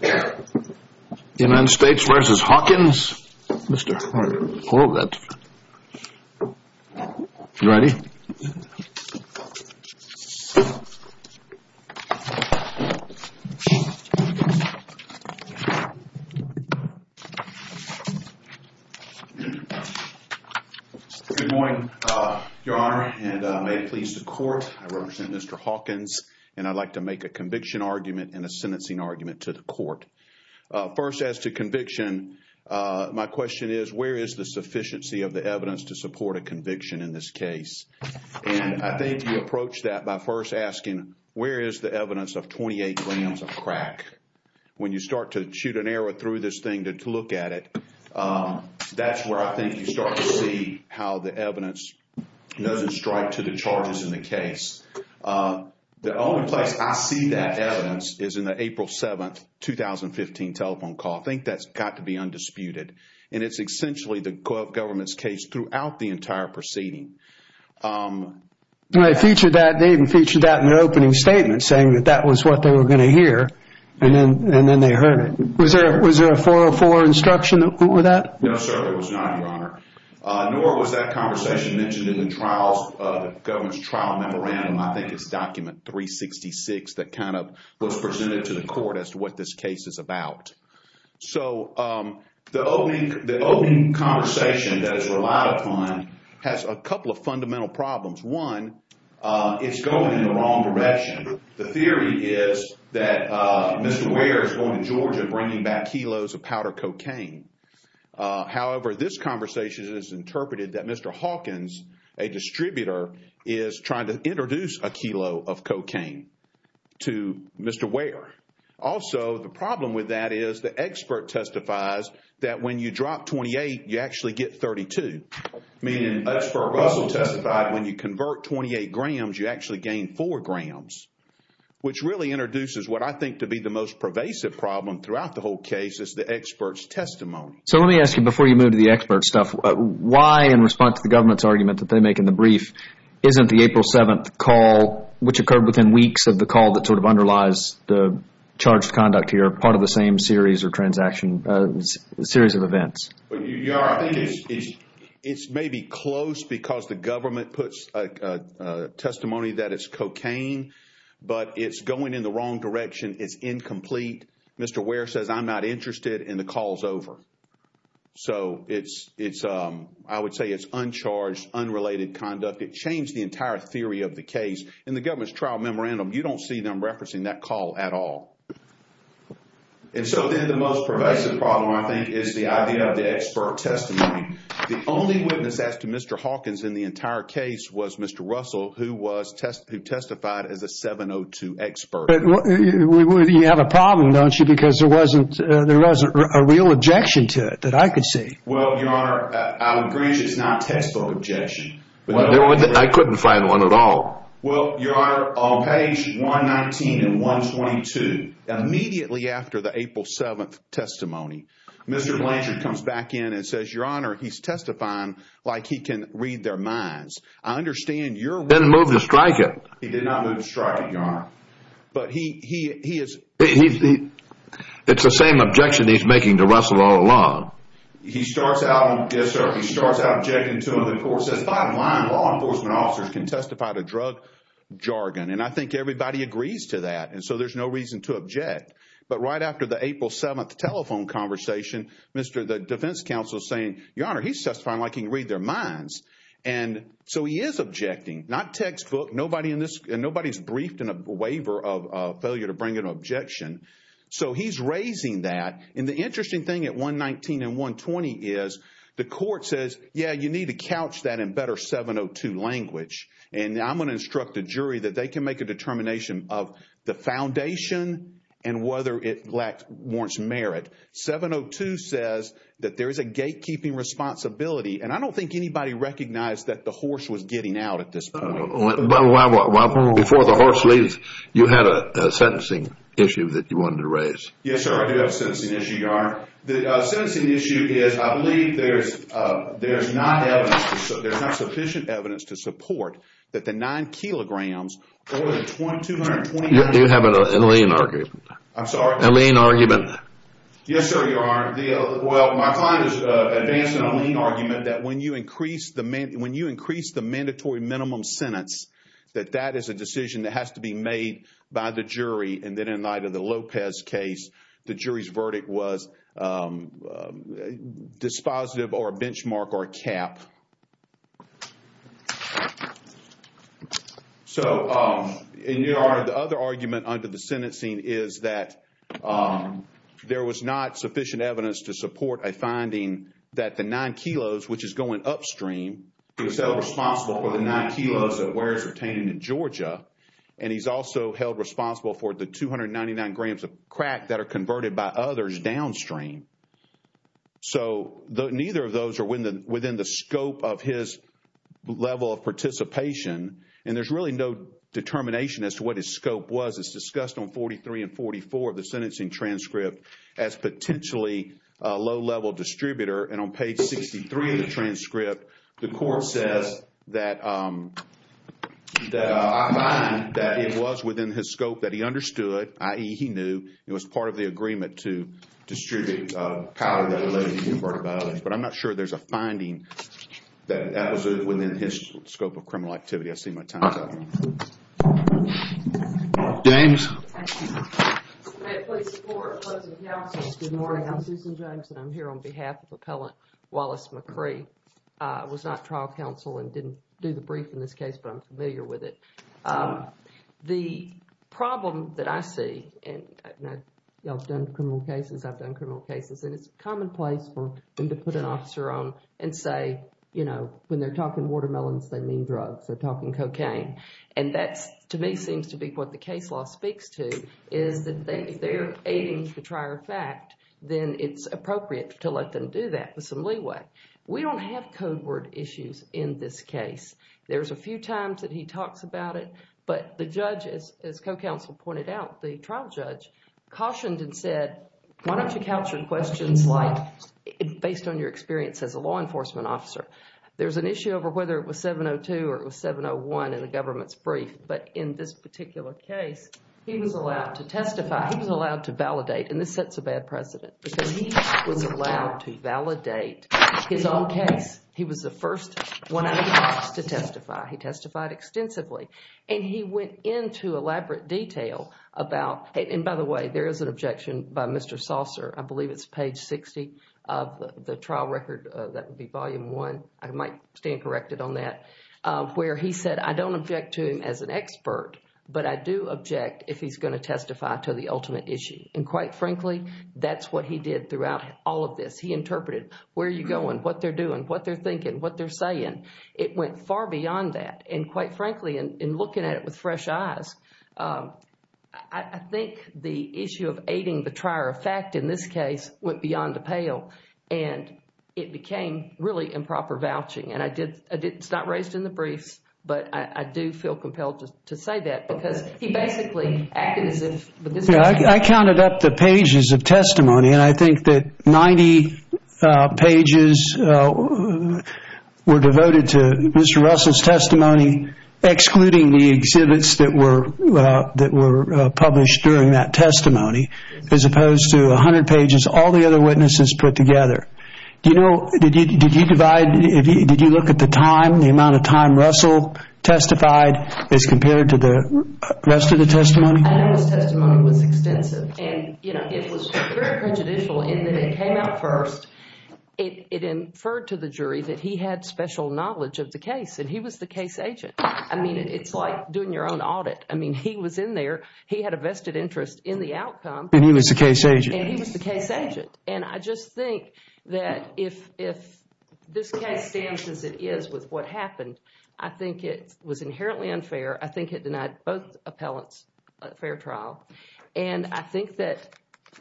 Good morning, your honor, and may it please the court, I represent Mr. Hawkins, and I'd like to make a conviction argument and a sentencing argument to the court. First, as to conviction, my question is, where is the sufficiency of the evidence to support a conviction in this case? And I think you approach that by first asking, where is the evidence of 28 grams of crack? When you start to shoot an arrow through this thing to look at it, that's where I think you start to see how the evidence doesn't strike to the charges in the case. The only place I see that evidence is in the April 7, 2015 telephone call. I think that's got to be undisputed. And it's essentially the government's case throughout the entire proceeding. I featured that, they even featured that in their opening statement, saying that that was what they were going to hear, and then they heard it. Was there a 404 instruction with that? No, sir, there was not, your honor. Nor was that conversation mentioned in the government's trial memorandum. I think it's document 366 that kind of was presented to the court as to what this case is about. So, the opening conversation that is relied upon has a couple of fundamental problems. One, it's going in the wrong direction. The theory is that Mr. Ware is going to Georgia and bringing back kilos of powder cocaine. However, this conversation is interpreted that Mr. Hawkins, a distributor, is trying to introduce a kilo of cocaine to Mr. Ware. Also, the problem with that is the expert testifies that when you drop 28, you actually get 32. Meaning, when you convert 28 grams, you actually gain 4 grams, which really introduces what I think to be the most pervasive problem throughout the whole case is the expert's testimony. So, let me ask you, before you move to the expert stuff, why in response to the government's argument that they make in the brief, isn't the April 7th call, which occurred within weeks of the call that sort of underlies the charged conduct here, part of the same series or transaction, a series of events? It's maybe close because the government puts a testimony that it's cocaine, but it's going in the wrong direction. It's incomplete. Mr. Ware says, I'm not interested, and the call is over. So, I would say it's uncharged, unrelated conduct. It changed the entire theory of the case. In the government's trial memorandum, you don't see them referencing that call at all. So, then the most pervasive problem, I think, is the idea of the expert testimony. The only witness as to Mr. Hawkins in the entire case was Mr. Russell, who testified as a 702 expert. But you have a problem, don't you? Because there wasn't a real objection to it that I could see. Well, Your Honor, I would agree it's not a textbook objection. I couldn't find one at all. Well, Your Honor, on page 119 and 122, immediately after the April 7th testimony, Mr. Blanchard comes back in and says, Your Honor, he's testifying like he can read their minds. I understand your- He didn't move to strike it. He did not move to strike it, Your Honor. But he is- It's the same objection he's making to Russell all along. He starts out, yes, sir. He starts out objecting to it, of course. That's fine. My law enforcement officers can testify to drug jargon. And I think everybody agrees to that. And so, there's no reason to object. But right after the April 7th telephone conversation, the defense counsel is saying, Your Honor, he's testifying like he can read their minds. And so, he is objecting. Not textbook. Nobody's briefed in a waiver of failure to bring an objection. So, he's raising that. And the interesting thing at 119 and 120 is the court says, yeah, you need to couch that in better 702 language. And I'm going to instruct the jury that they can make a determination of the foundation and whether it warrants merit. 702 says that there is a gatekeeping responsibility. And I don't think anybody recognized that the horse was getting out at this point. But before the horse leaves, you had a sentencing issue that you wanted to raise. Yes, sir. I do have a sentencing issue, Your Honor. The sentencing issue is, I believe there's not sufficient evidence to support that the nine kilograms over the 220- You have a lien argument. I'm sorry? A lien argument. Yes, sir, Your Honor. Well, my client is advancing a lien argument that when you increase the mandatory minimum sentence, that that is a decision that has to be made by the jury. And then in light of the Lopez case, the jury's verdict was dispositive or a benchmark or a cap. So, Your Honor, the other argument under the sentencing is that there was not sufficient for the nine kilos of wares retained in Georgia. And he's also held responsible for the 299 grams of crack that are converted by others downstream. So, neither of those are within the scope of his level of participation. And there's really no determination as to what his scope was. It's discussed on 43 and 44 of the sentencing transcript as potentially a low-level distributor. And on page 63 of the transcript, the court says that it was within his scope that he understood, i.e., he knew it was part of the agreement to distribute powder that related to the converted by others. But I'm not sure there's a finding that that was within his scope of criminal activity. I see my time's up. James? May it please the Court. Closing counsel, good morning. I'm Susan James and I'm here on behalf of Appellant Wallace McCree. I was not trial counsel and didn't do the brief in this case, but I'm familiar with it. The problem that I see, and I've done criminal cases, I've done criminal cases, and it's commonplace for them to put an officer on and say, you know, when they're talking watermelons, they mean drugs. They're talking cocaine. And that, to me, seems to be what the case law speaks to, is that if they're aiding the trier fact, then it's appropriate to let them do that with some leeway. We don't have code word issues in this case. There's a few times that he talks about it, but the judge, as co-counsel pointed out, the trial judge, cautioned and said, why don't you couch your questions like, based on your experience as a law enforcement officer. There's an issue over whether it was 702 or it was 701 in the government's brief, but in this particular case, he was allowed to testify, he was allowed to validate, and this sets a bad precedent, because he was allowed to validate his own case. He was the first one out of the box to testify. He testified extensively, and he went into elaborate detail about, and by the way, there is an objection by Mr. Saucer, I believe it's page 60 of the trial record, that would be volume one, I might stand corrected on that, where he said, I don't object to him as an expert, but I do object if he's going to testify to the ultimate issue. And quite frankly, that's what he did throughout all of this. He interpreted, where are you going, what they're doing, what they're thinking, what they're saying. It went far beyond that, and quite frankly, in looking at it with fresh eyes, I think the issue of aiding the trier fact in this case went beyond a pale, and it became really improper vouching, and it's not raised in the briefs, but I do feel compelled to say that, because he basically acted as if... I counted up the pages of testimony, and I think that 90 pages were devoted to Mr. Russell's testimony, excluding the exhibits that were published during that testimony, as opposed to 100 pages, all the other witnesses put together. Did you look at the time, the amount of time Russell testified as compared to the rest of the testimony? I know his testimony was extensive, and it was very prejudicial in that it came out first, it inferred to the jury that he had special knowledge of the case, and he was the case agent. I mean, it's like doing your own audit. I mean, he was in there, he had a vested interest in the outcome... And he was the case agent. And he was the case agent, and I just think that if this case stands as it is with what happened, I think it was inherently unfair, I think it denied both appellants a fair trial, and I think that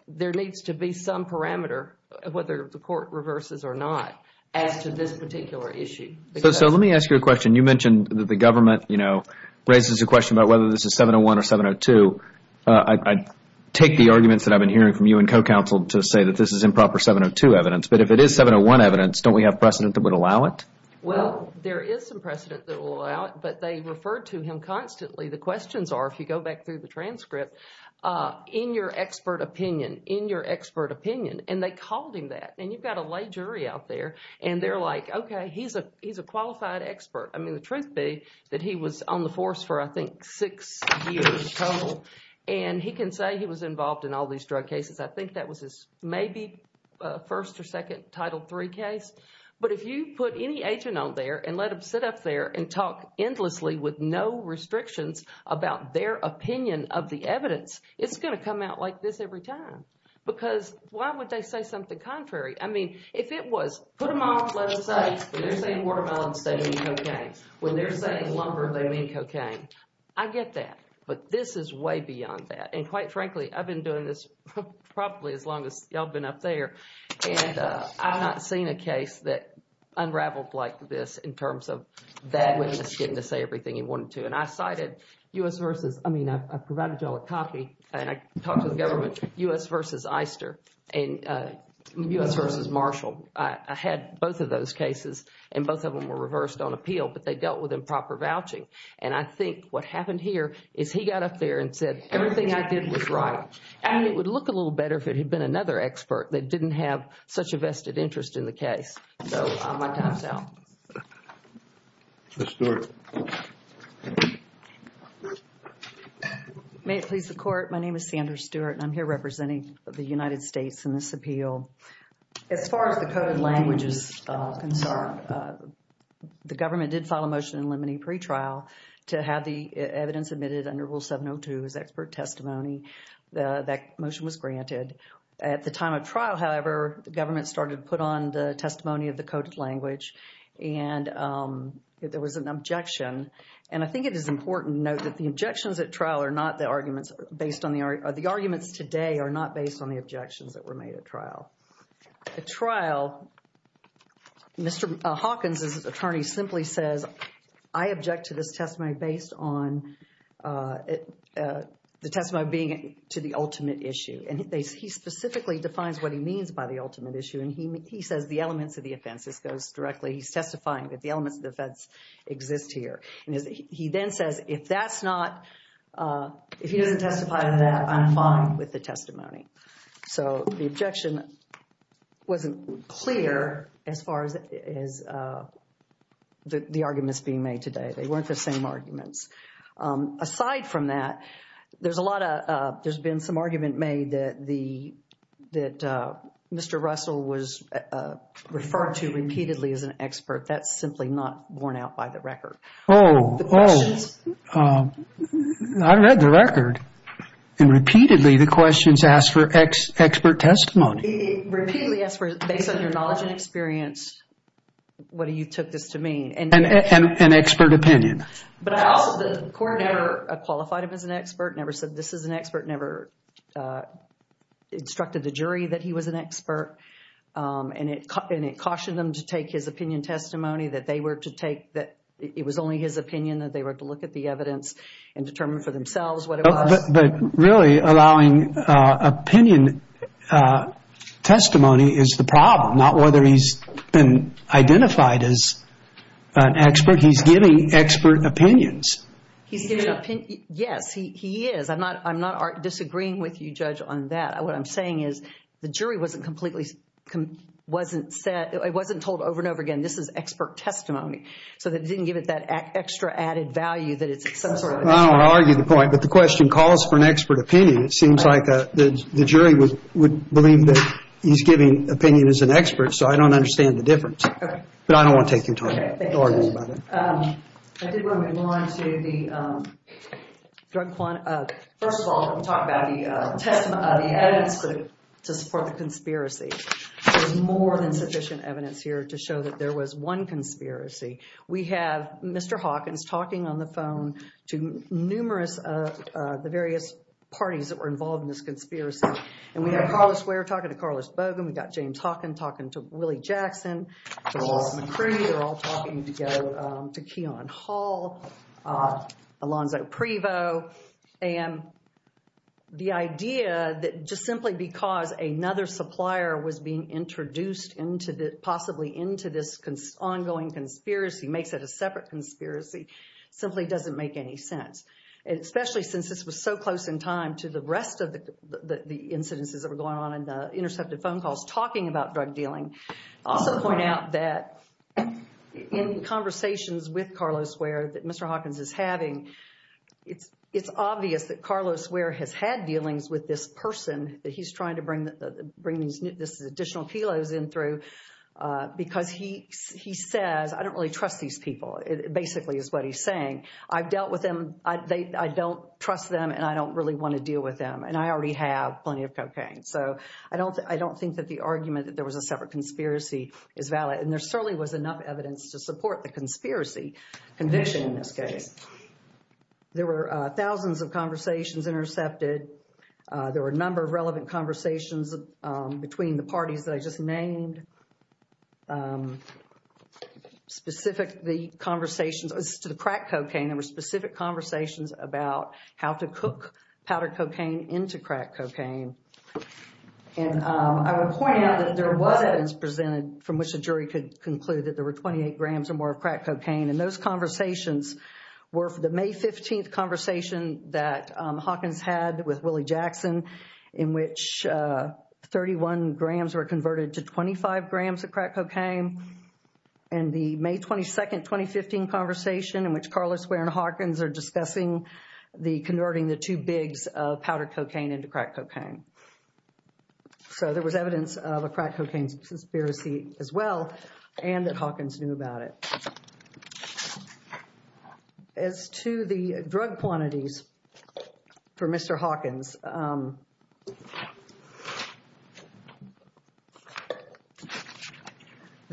there needs to be some parameter, whether the court reverses or not, as to this particular issue. So let me ask you a question. You mentioned that the government, you know, raises a question about whether this is 701 or 702. So I take the arguments that I've been hearing from you and co-counsel to say that this is improper 702 evidence, but if it is 701 evidence, don't we have precedent that would allow it? Well, there is some precedent that will allow it, but they refer to him constantly. The questions are, if you go back through the transcript, in your expert opinion, in your expert opinion, and they called him that, and you've got a lay jury out there, and they're like, okay, he's a qualified expert. I mean, the truth be that he was on the force for, I think, six years total, and he can say he was involved in all these drug cases. I think that was his maybe first or second Title III case. But if you put any agent on there and let them sit up there and talk endlessly with no restrictions about their opinion of the evidence, it's going to come out like this every time. Because why would they say something contrary? I mean, if it was, put them off, let them say, when they're saying watermelons, they mean cocaine. When they're saying lumber, they mean cocaine. I get that, but this is way beyond that. And quite frankly, I've been doing this probably as long as y'all have been up there, and I've not seen a case that unraveled like this in terms of that witness getting to say everything he wanted to. And I cited U.S. versus, I mean, I provided y'all a copy, and I talked to the government, U.S. versus Eister, and U.S. versus Marshall. I had both of those cases, and both of them were reversed on appeal, but they dealt with improper vouching. And I think what happened here is he got up there and said, everything I did was right. And it would look a little better if it had been another expert that didn't have such a vested interest in the case. So, my time's out. Ms. Stewart. May it please the Court. My name is Sandra Stewart, and I'm here representing the United States in this appeal. As far as the coded language is concerned, the government did file a motion in limine pre-trial to have the evidence admitted under Rule 702 as expert testimony. That motion was granted. At the time of trial, however, the government started to put on the testimony of the coded language, and there was an objection. And I think it is important to note that the objections at trial are not the arguments based on the the arguments today are not based on the objections that were made at trial. At trial, Mr. Hawkins' attorney simply says, I object to this testimony based on the testimony being to the ultimate issue. And he specifically defines what he means by the ultimate issue, and he says the elements of the offense. This goes directly, he's testifying that the elements of the offense exist here. He then says if that's not, if he doesn't testify to that, I'm fine with the testimony. So, the objection wasn't clear as far as the arguments being made today. They weren't the same arguments. Aside from that, there's a lot of, there's been some argument made that the, that Mr. Russell was referred to repeatedly as an expert. That's simply not borne out by the record. Oh, oh. The questions. I read the record, and repeatedly the questions asked for expert testimony. Repeatedly asked for, based on your knowledge and experience, what you took this to mean. And expert opinion. But I also, the court never qualified him as an expert, never said this is an expert, never instructed the jury that he was an expert. And it cautioned them to take his opinion testimony that they were to take, that it was only his opinion that they were to look at the evidence and determine for themselves what it was. But really, allowing opinion testimony is the problem, not whether he's been identified as an expert. He's giving expert opinions. He's giving opinion, yes, he is. I'm not, I'm not disagreeing with you, Judge, on that. What I'm saying is, the jury wasn't completely, wasn't set, it wasn't told over and over again, this is expert testimony. So they didn't give it that extra added value that it's some sort of expert. I don't want to argue the point, but the question calls for an expert opinion. It seems like the jury would believe that he's giving opinion as an expert, so I don't understand the difference. Okay. But I don't want to take your time arguing about it. I did want to go on to the drug quantum, first of all, I'm going to talk about the evidence to support the conspiracy. There's more than sufficient evidence here to show that there was one conspiracy. We have Mr. Hawkins talking on the phone to numerous, the various parties that were involved in this conspiracy. And we have Carlos Ware talking to Carlos Bogan, we've got James Hawkins talking to Willie Jackson, Charles McCree are all talking together, to Keon Hall, Alonzo Prevo. And the idea that just simply because another supplier was being introduced into this, possibly into this ongoing conspiracy, makes it a separate conspiracy, simply doesn't make any sense. Especially since this was so close in time to the rest of the incidences that were going on in the intercepted phone calls talking about drug dealing. I'll also point out that in conversations with Carlos Ware, that Mr. Hawkins is having, it's obvious that Carlos Ware has had dealings with this person that he's trying to bring these additional kilos in through, because he says, I don't really trust these people, basically is what he's saying. I've dealt with them, I don't trust them, and I don't really want to deal with them. And I already have plenty of cocaine. So I don't think that the argument that there was a separate conspiracy is valid. And there certainly was enough evidence to support the conspiracy conviction in this case. There were thousands of conversations intercepted. There were a number of relevant conversations between the parties that I just named. Specific, the conversations to the crack cocaine, there were specific conversations about how to cook powdered cocaine into crack cocaine. And I would point out that there was evidence presented from which the jury could conclude that there were 28 grams or more of crack cocaine. And those conversations were for the May 15th conversation that Hawkins had with Willie Jackson, in which 31 grams were converted to 25 grams of crack cocaine. And the May 22nd, 2015 conversation, in which Carlos Ware and Hawkins are discussing converting the two bigs of powdered cocaine into crack cocaine. So there was evidence of a crack cocaine conspiracy as well, and that Hawkins knew about it. As to the drug quantities for Mr. Hawkins, the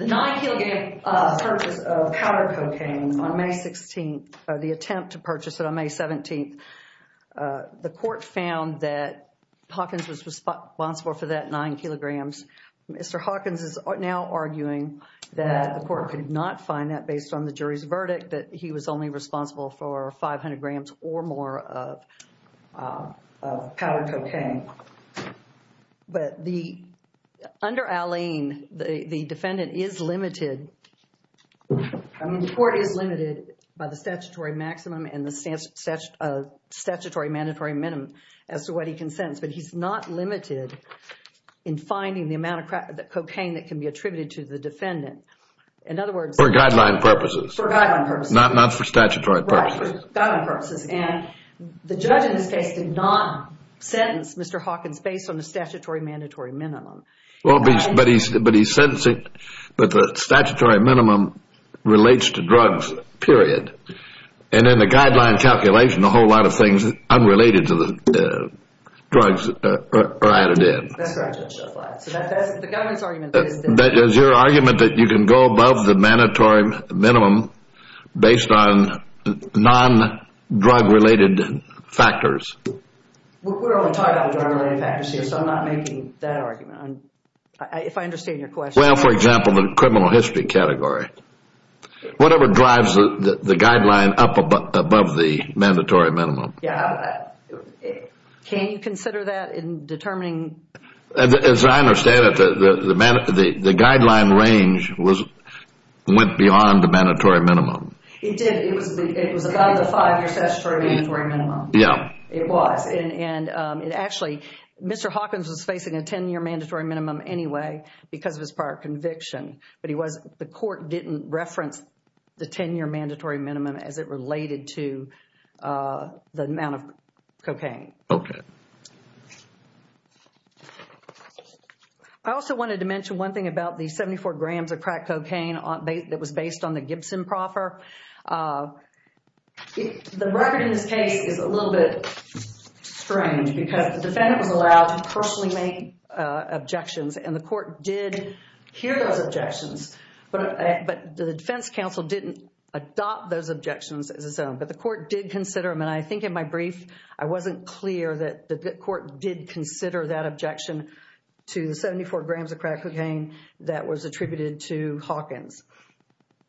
night he'll get a purchase of powder cocaine on May 16th, or the attempt to purchase it on May 17th, the court found that Hawkins was responsible for that nine kilograms. Mr. Hawkins is now arguing that the court could not find that based on the jury's verdict, that he was only responsible for 500 grams or more of powdered cocaine. But the, under Alleyne, the defendant is limited, I mean the court is limited by the statutory maximum and the statutory mandatory minimum as to what he can sentence. But he's not limited in finding the amount of cocaine that can be attributed to the defendant. In other words, For guideline purposes. For guideline purposes. Not for statutory purposes. Right, for guideline purposes. And the judge in this case did not sentence Mr. Hawkins based on the statutory mandatory minimum. But he's sentencing, but the statutory minimum relates to drugs, period. And in the guideline calculation, a whole lot of things unrelated to the drugs are added in. That's right, Judge Shelflight. So that's the government's argument. Is your argument that you can go above the mandatory minimum based on non-drug related factors? We're only talking about drug related factors here, so I'm not making that argument. If I understand your question. Well, for example, the criminal history category. Whatever drives the guideline up above the mandatory minimum. Yeah. Can you consider that in determining? As I understand it, the guideline range went beyond the mandatory minimum. It did. It was above the five year statutory mandatory minimum. Yeah. It was. And it actually, Mr. Hawkins was facing a 10 year mandatory minimum anyway, because of his prior conviction. But he was, the court didn't reference the 10 year mandatory minimum as it related to the amount of cocaine. Okay. I also wanted to mention one thing about the 74 grams of crack cocaine that was based on the Gibson proffer. The record in this case is a little bit strange because the defendant was allowed to personally make objections and the court did hear those objections, but the defense counsel didn't adopt those objections as its own, but the court did consider them. And I think in my brief, I wasn't clear that the court did consider that objection to the 74 grams of crack cocaine that was attributed to Hawkins.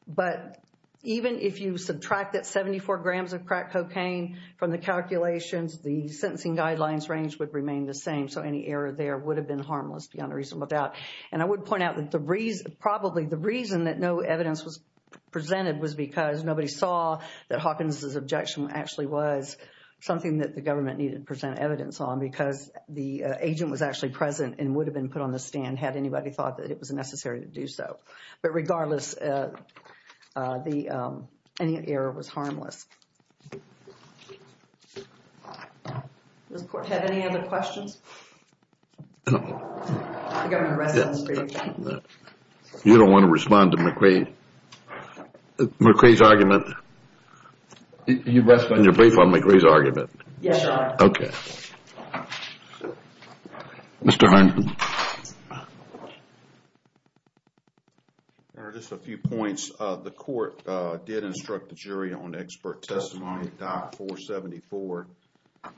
But even if you subtract that 74 grams of crack cocaine from the calculations, the sentencing guidelines range would remain the same. So any error there would have been harmless beyond a reasonable doubt. And I would point out that the reason, probably the reason that no evidence was presented was because nobody saw that Hawkins' objection actually was something that the government needed to present evidence on, because the agent was actually present and would have been put on the stand had anybody thought that it was necessary to do so. But regardless, any error was harmless. Does the court have any other questions? You don't want to respond to McRae? McRae's argument? You rest on your brief on McRae's argument? Yes, Your Honor. Okay. Mr. Harkin. Your Honor, just a few points. The court did instruct the jury on expert testimony. Diet 474,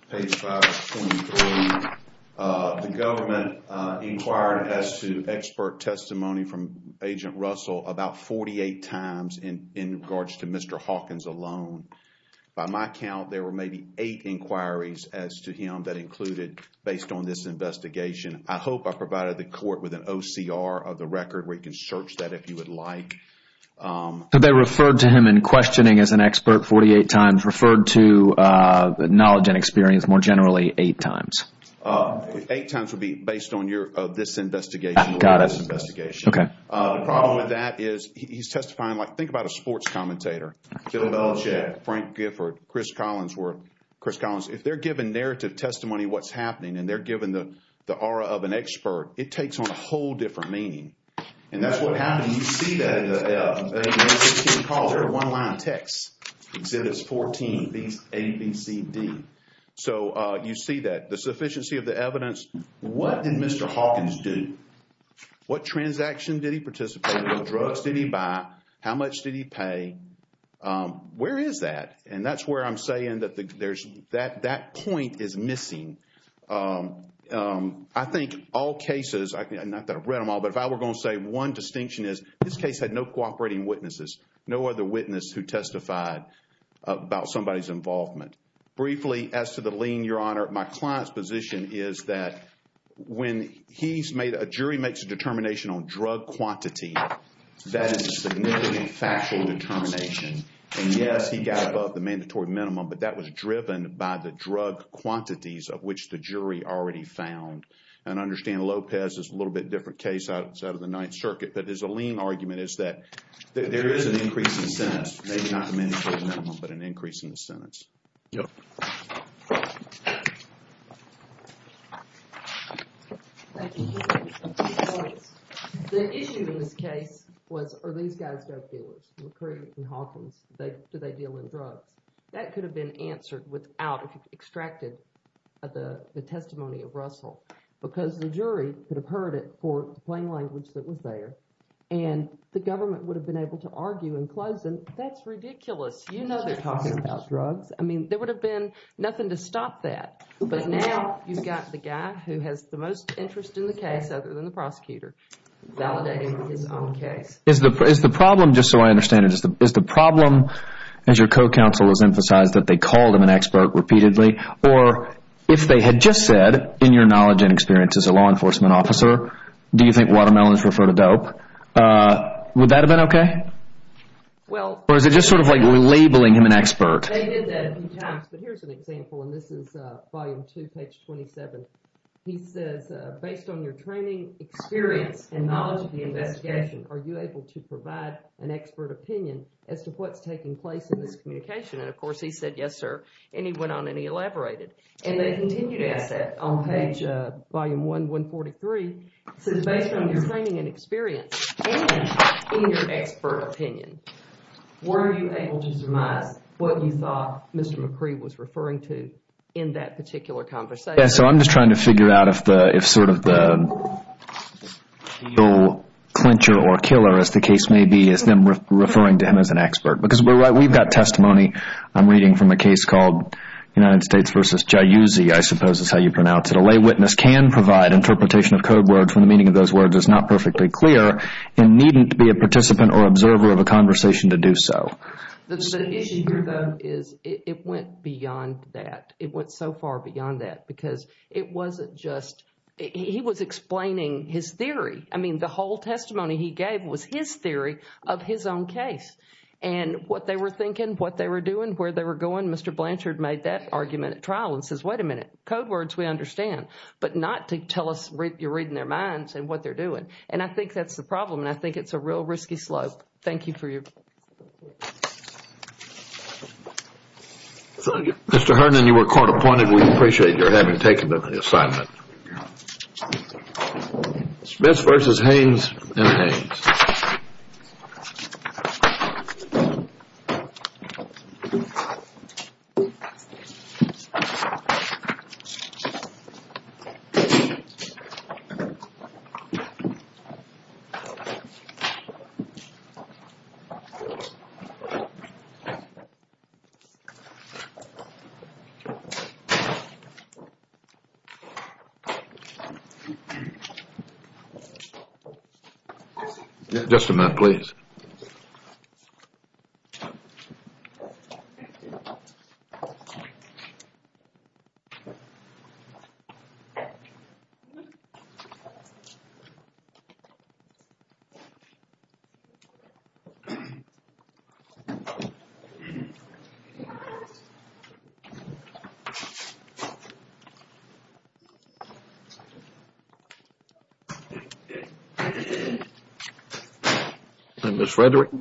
page 523. The government inquired as to expert testimony from Agent Russell about 48 times in regards to Mr. Hawkins alone. By my count, there were maybe eight inquiries as to him that included based on this investigation. I hope I provided the court with an OCR of the record where you can search that if you would like. But they referred to him in questioning as an expert 48 times, referred to the knowledge and experience more generally eight times? Eight times would be based on this investigation. Got it. Okay. The problem with that is he's testifying like think about a sports commentator. Bill Belichick, Frank Gifford, Chris Collins. If they're given narrative testimony of what's happening and they're given the aura of an expert, it takes on a whole different meaning. And that's what happened. You see that in the one-line text. Exhibits 14, A, B, C, D. So you see that. The sufficiency of the evidence. What did Mr. Hawkins do? What transaction did he participate in? What drugs did he buy? How much did he pay? Where is that? And that's where I'm saying that that point is missing. I think all cases, not that I've read them all, but if I were going to say one distinction is this case had no cooperating witnesses. No other witness who testified about somebody's involvement. Briefly, as to the lien, Your Honor, my client's position is that when he's made, a jury makes a determination on drug quantity, that is a significant factual determination. And yes, he got above the mandatory minimum, but that was driven by the drug quantities of which the jury already found. And I understand Lopez is a little bit different case outside of the Ninth Circuit. But his lien argument is that there is an increase in sentence, maybe not the mandatory minimum, but an increase in the sentence. Yep. Thank you. The issue in this case was, are these guys drug dealers? McCree and Hawkins, do they deal in drugs? That could have been answered without, if you've extracted the testimony of Russell. Because the jury could have heard it for the plain language that was there. And the government would have been able to argue and close them. That's ridiculous. You know they're talking about drugs. I mean, there would have been nothing to stop that. But now you've got the guy who has the most interest in the case other than the prosecutor validating his own case. Is the problem, just so I understand it, is the problem, as your co-counsel has emphasized, that they called him an expert repeatedly? Or if they had just said, in your knowledge and experience as a law enforcement officer, do you think watermelons refer to dope, would that have been okay? Or is it just sort of like labeling him an expert? They did that a few times. But here's an example, and this is volume two, page 27. He says, based on your training, experience, and knowledge of the investigation, are you able to provide an expert opinion as to what's taking place in this communication? And, of course, he said, yes, sir. And he went on and he elaborated. And they continue to ask that on page, volume one, 143. It says, based on your training and experience, and in your expert opinion, were you able to surmise what you thought Mr. McCree was referring to in that particular conversation? Yes, so I'm just trying to figure out if sort of the real clincher or killer, as the case may be, is them referring to him as an expert. Because we've got testimony I'm reading from a case called United States versus Jayuzzi, I suppose is how you pronounce it. A lay witness can provide interpretation of code words when the meaning of those words is not perfectly clear and needn't be a participant or observer of a conversation to do so. The issue here, though, is it went beyond that. It went so far beyond that because it wasn't just, he was explaining his theory. I mean, the whole testimony he gave was his theory of his own case. And what they were thinking, what they were doing, where they were going, Mr. Blanchard made that argument at trial and says, wait a minute, code words we understand, but not to tell us you're reading their minds and what they're doing. And I think that's the problem. And I think it's a real risky slope. Thank you for your. Thank you. Mr. Herndon, you were court appointed. We appreciate your having taken the assignment. Smith versus Haynes and Haynes. Just a minute, please. Thank you, Mr. Herndon.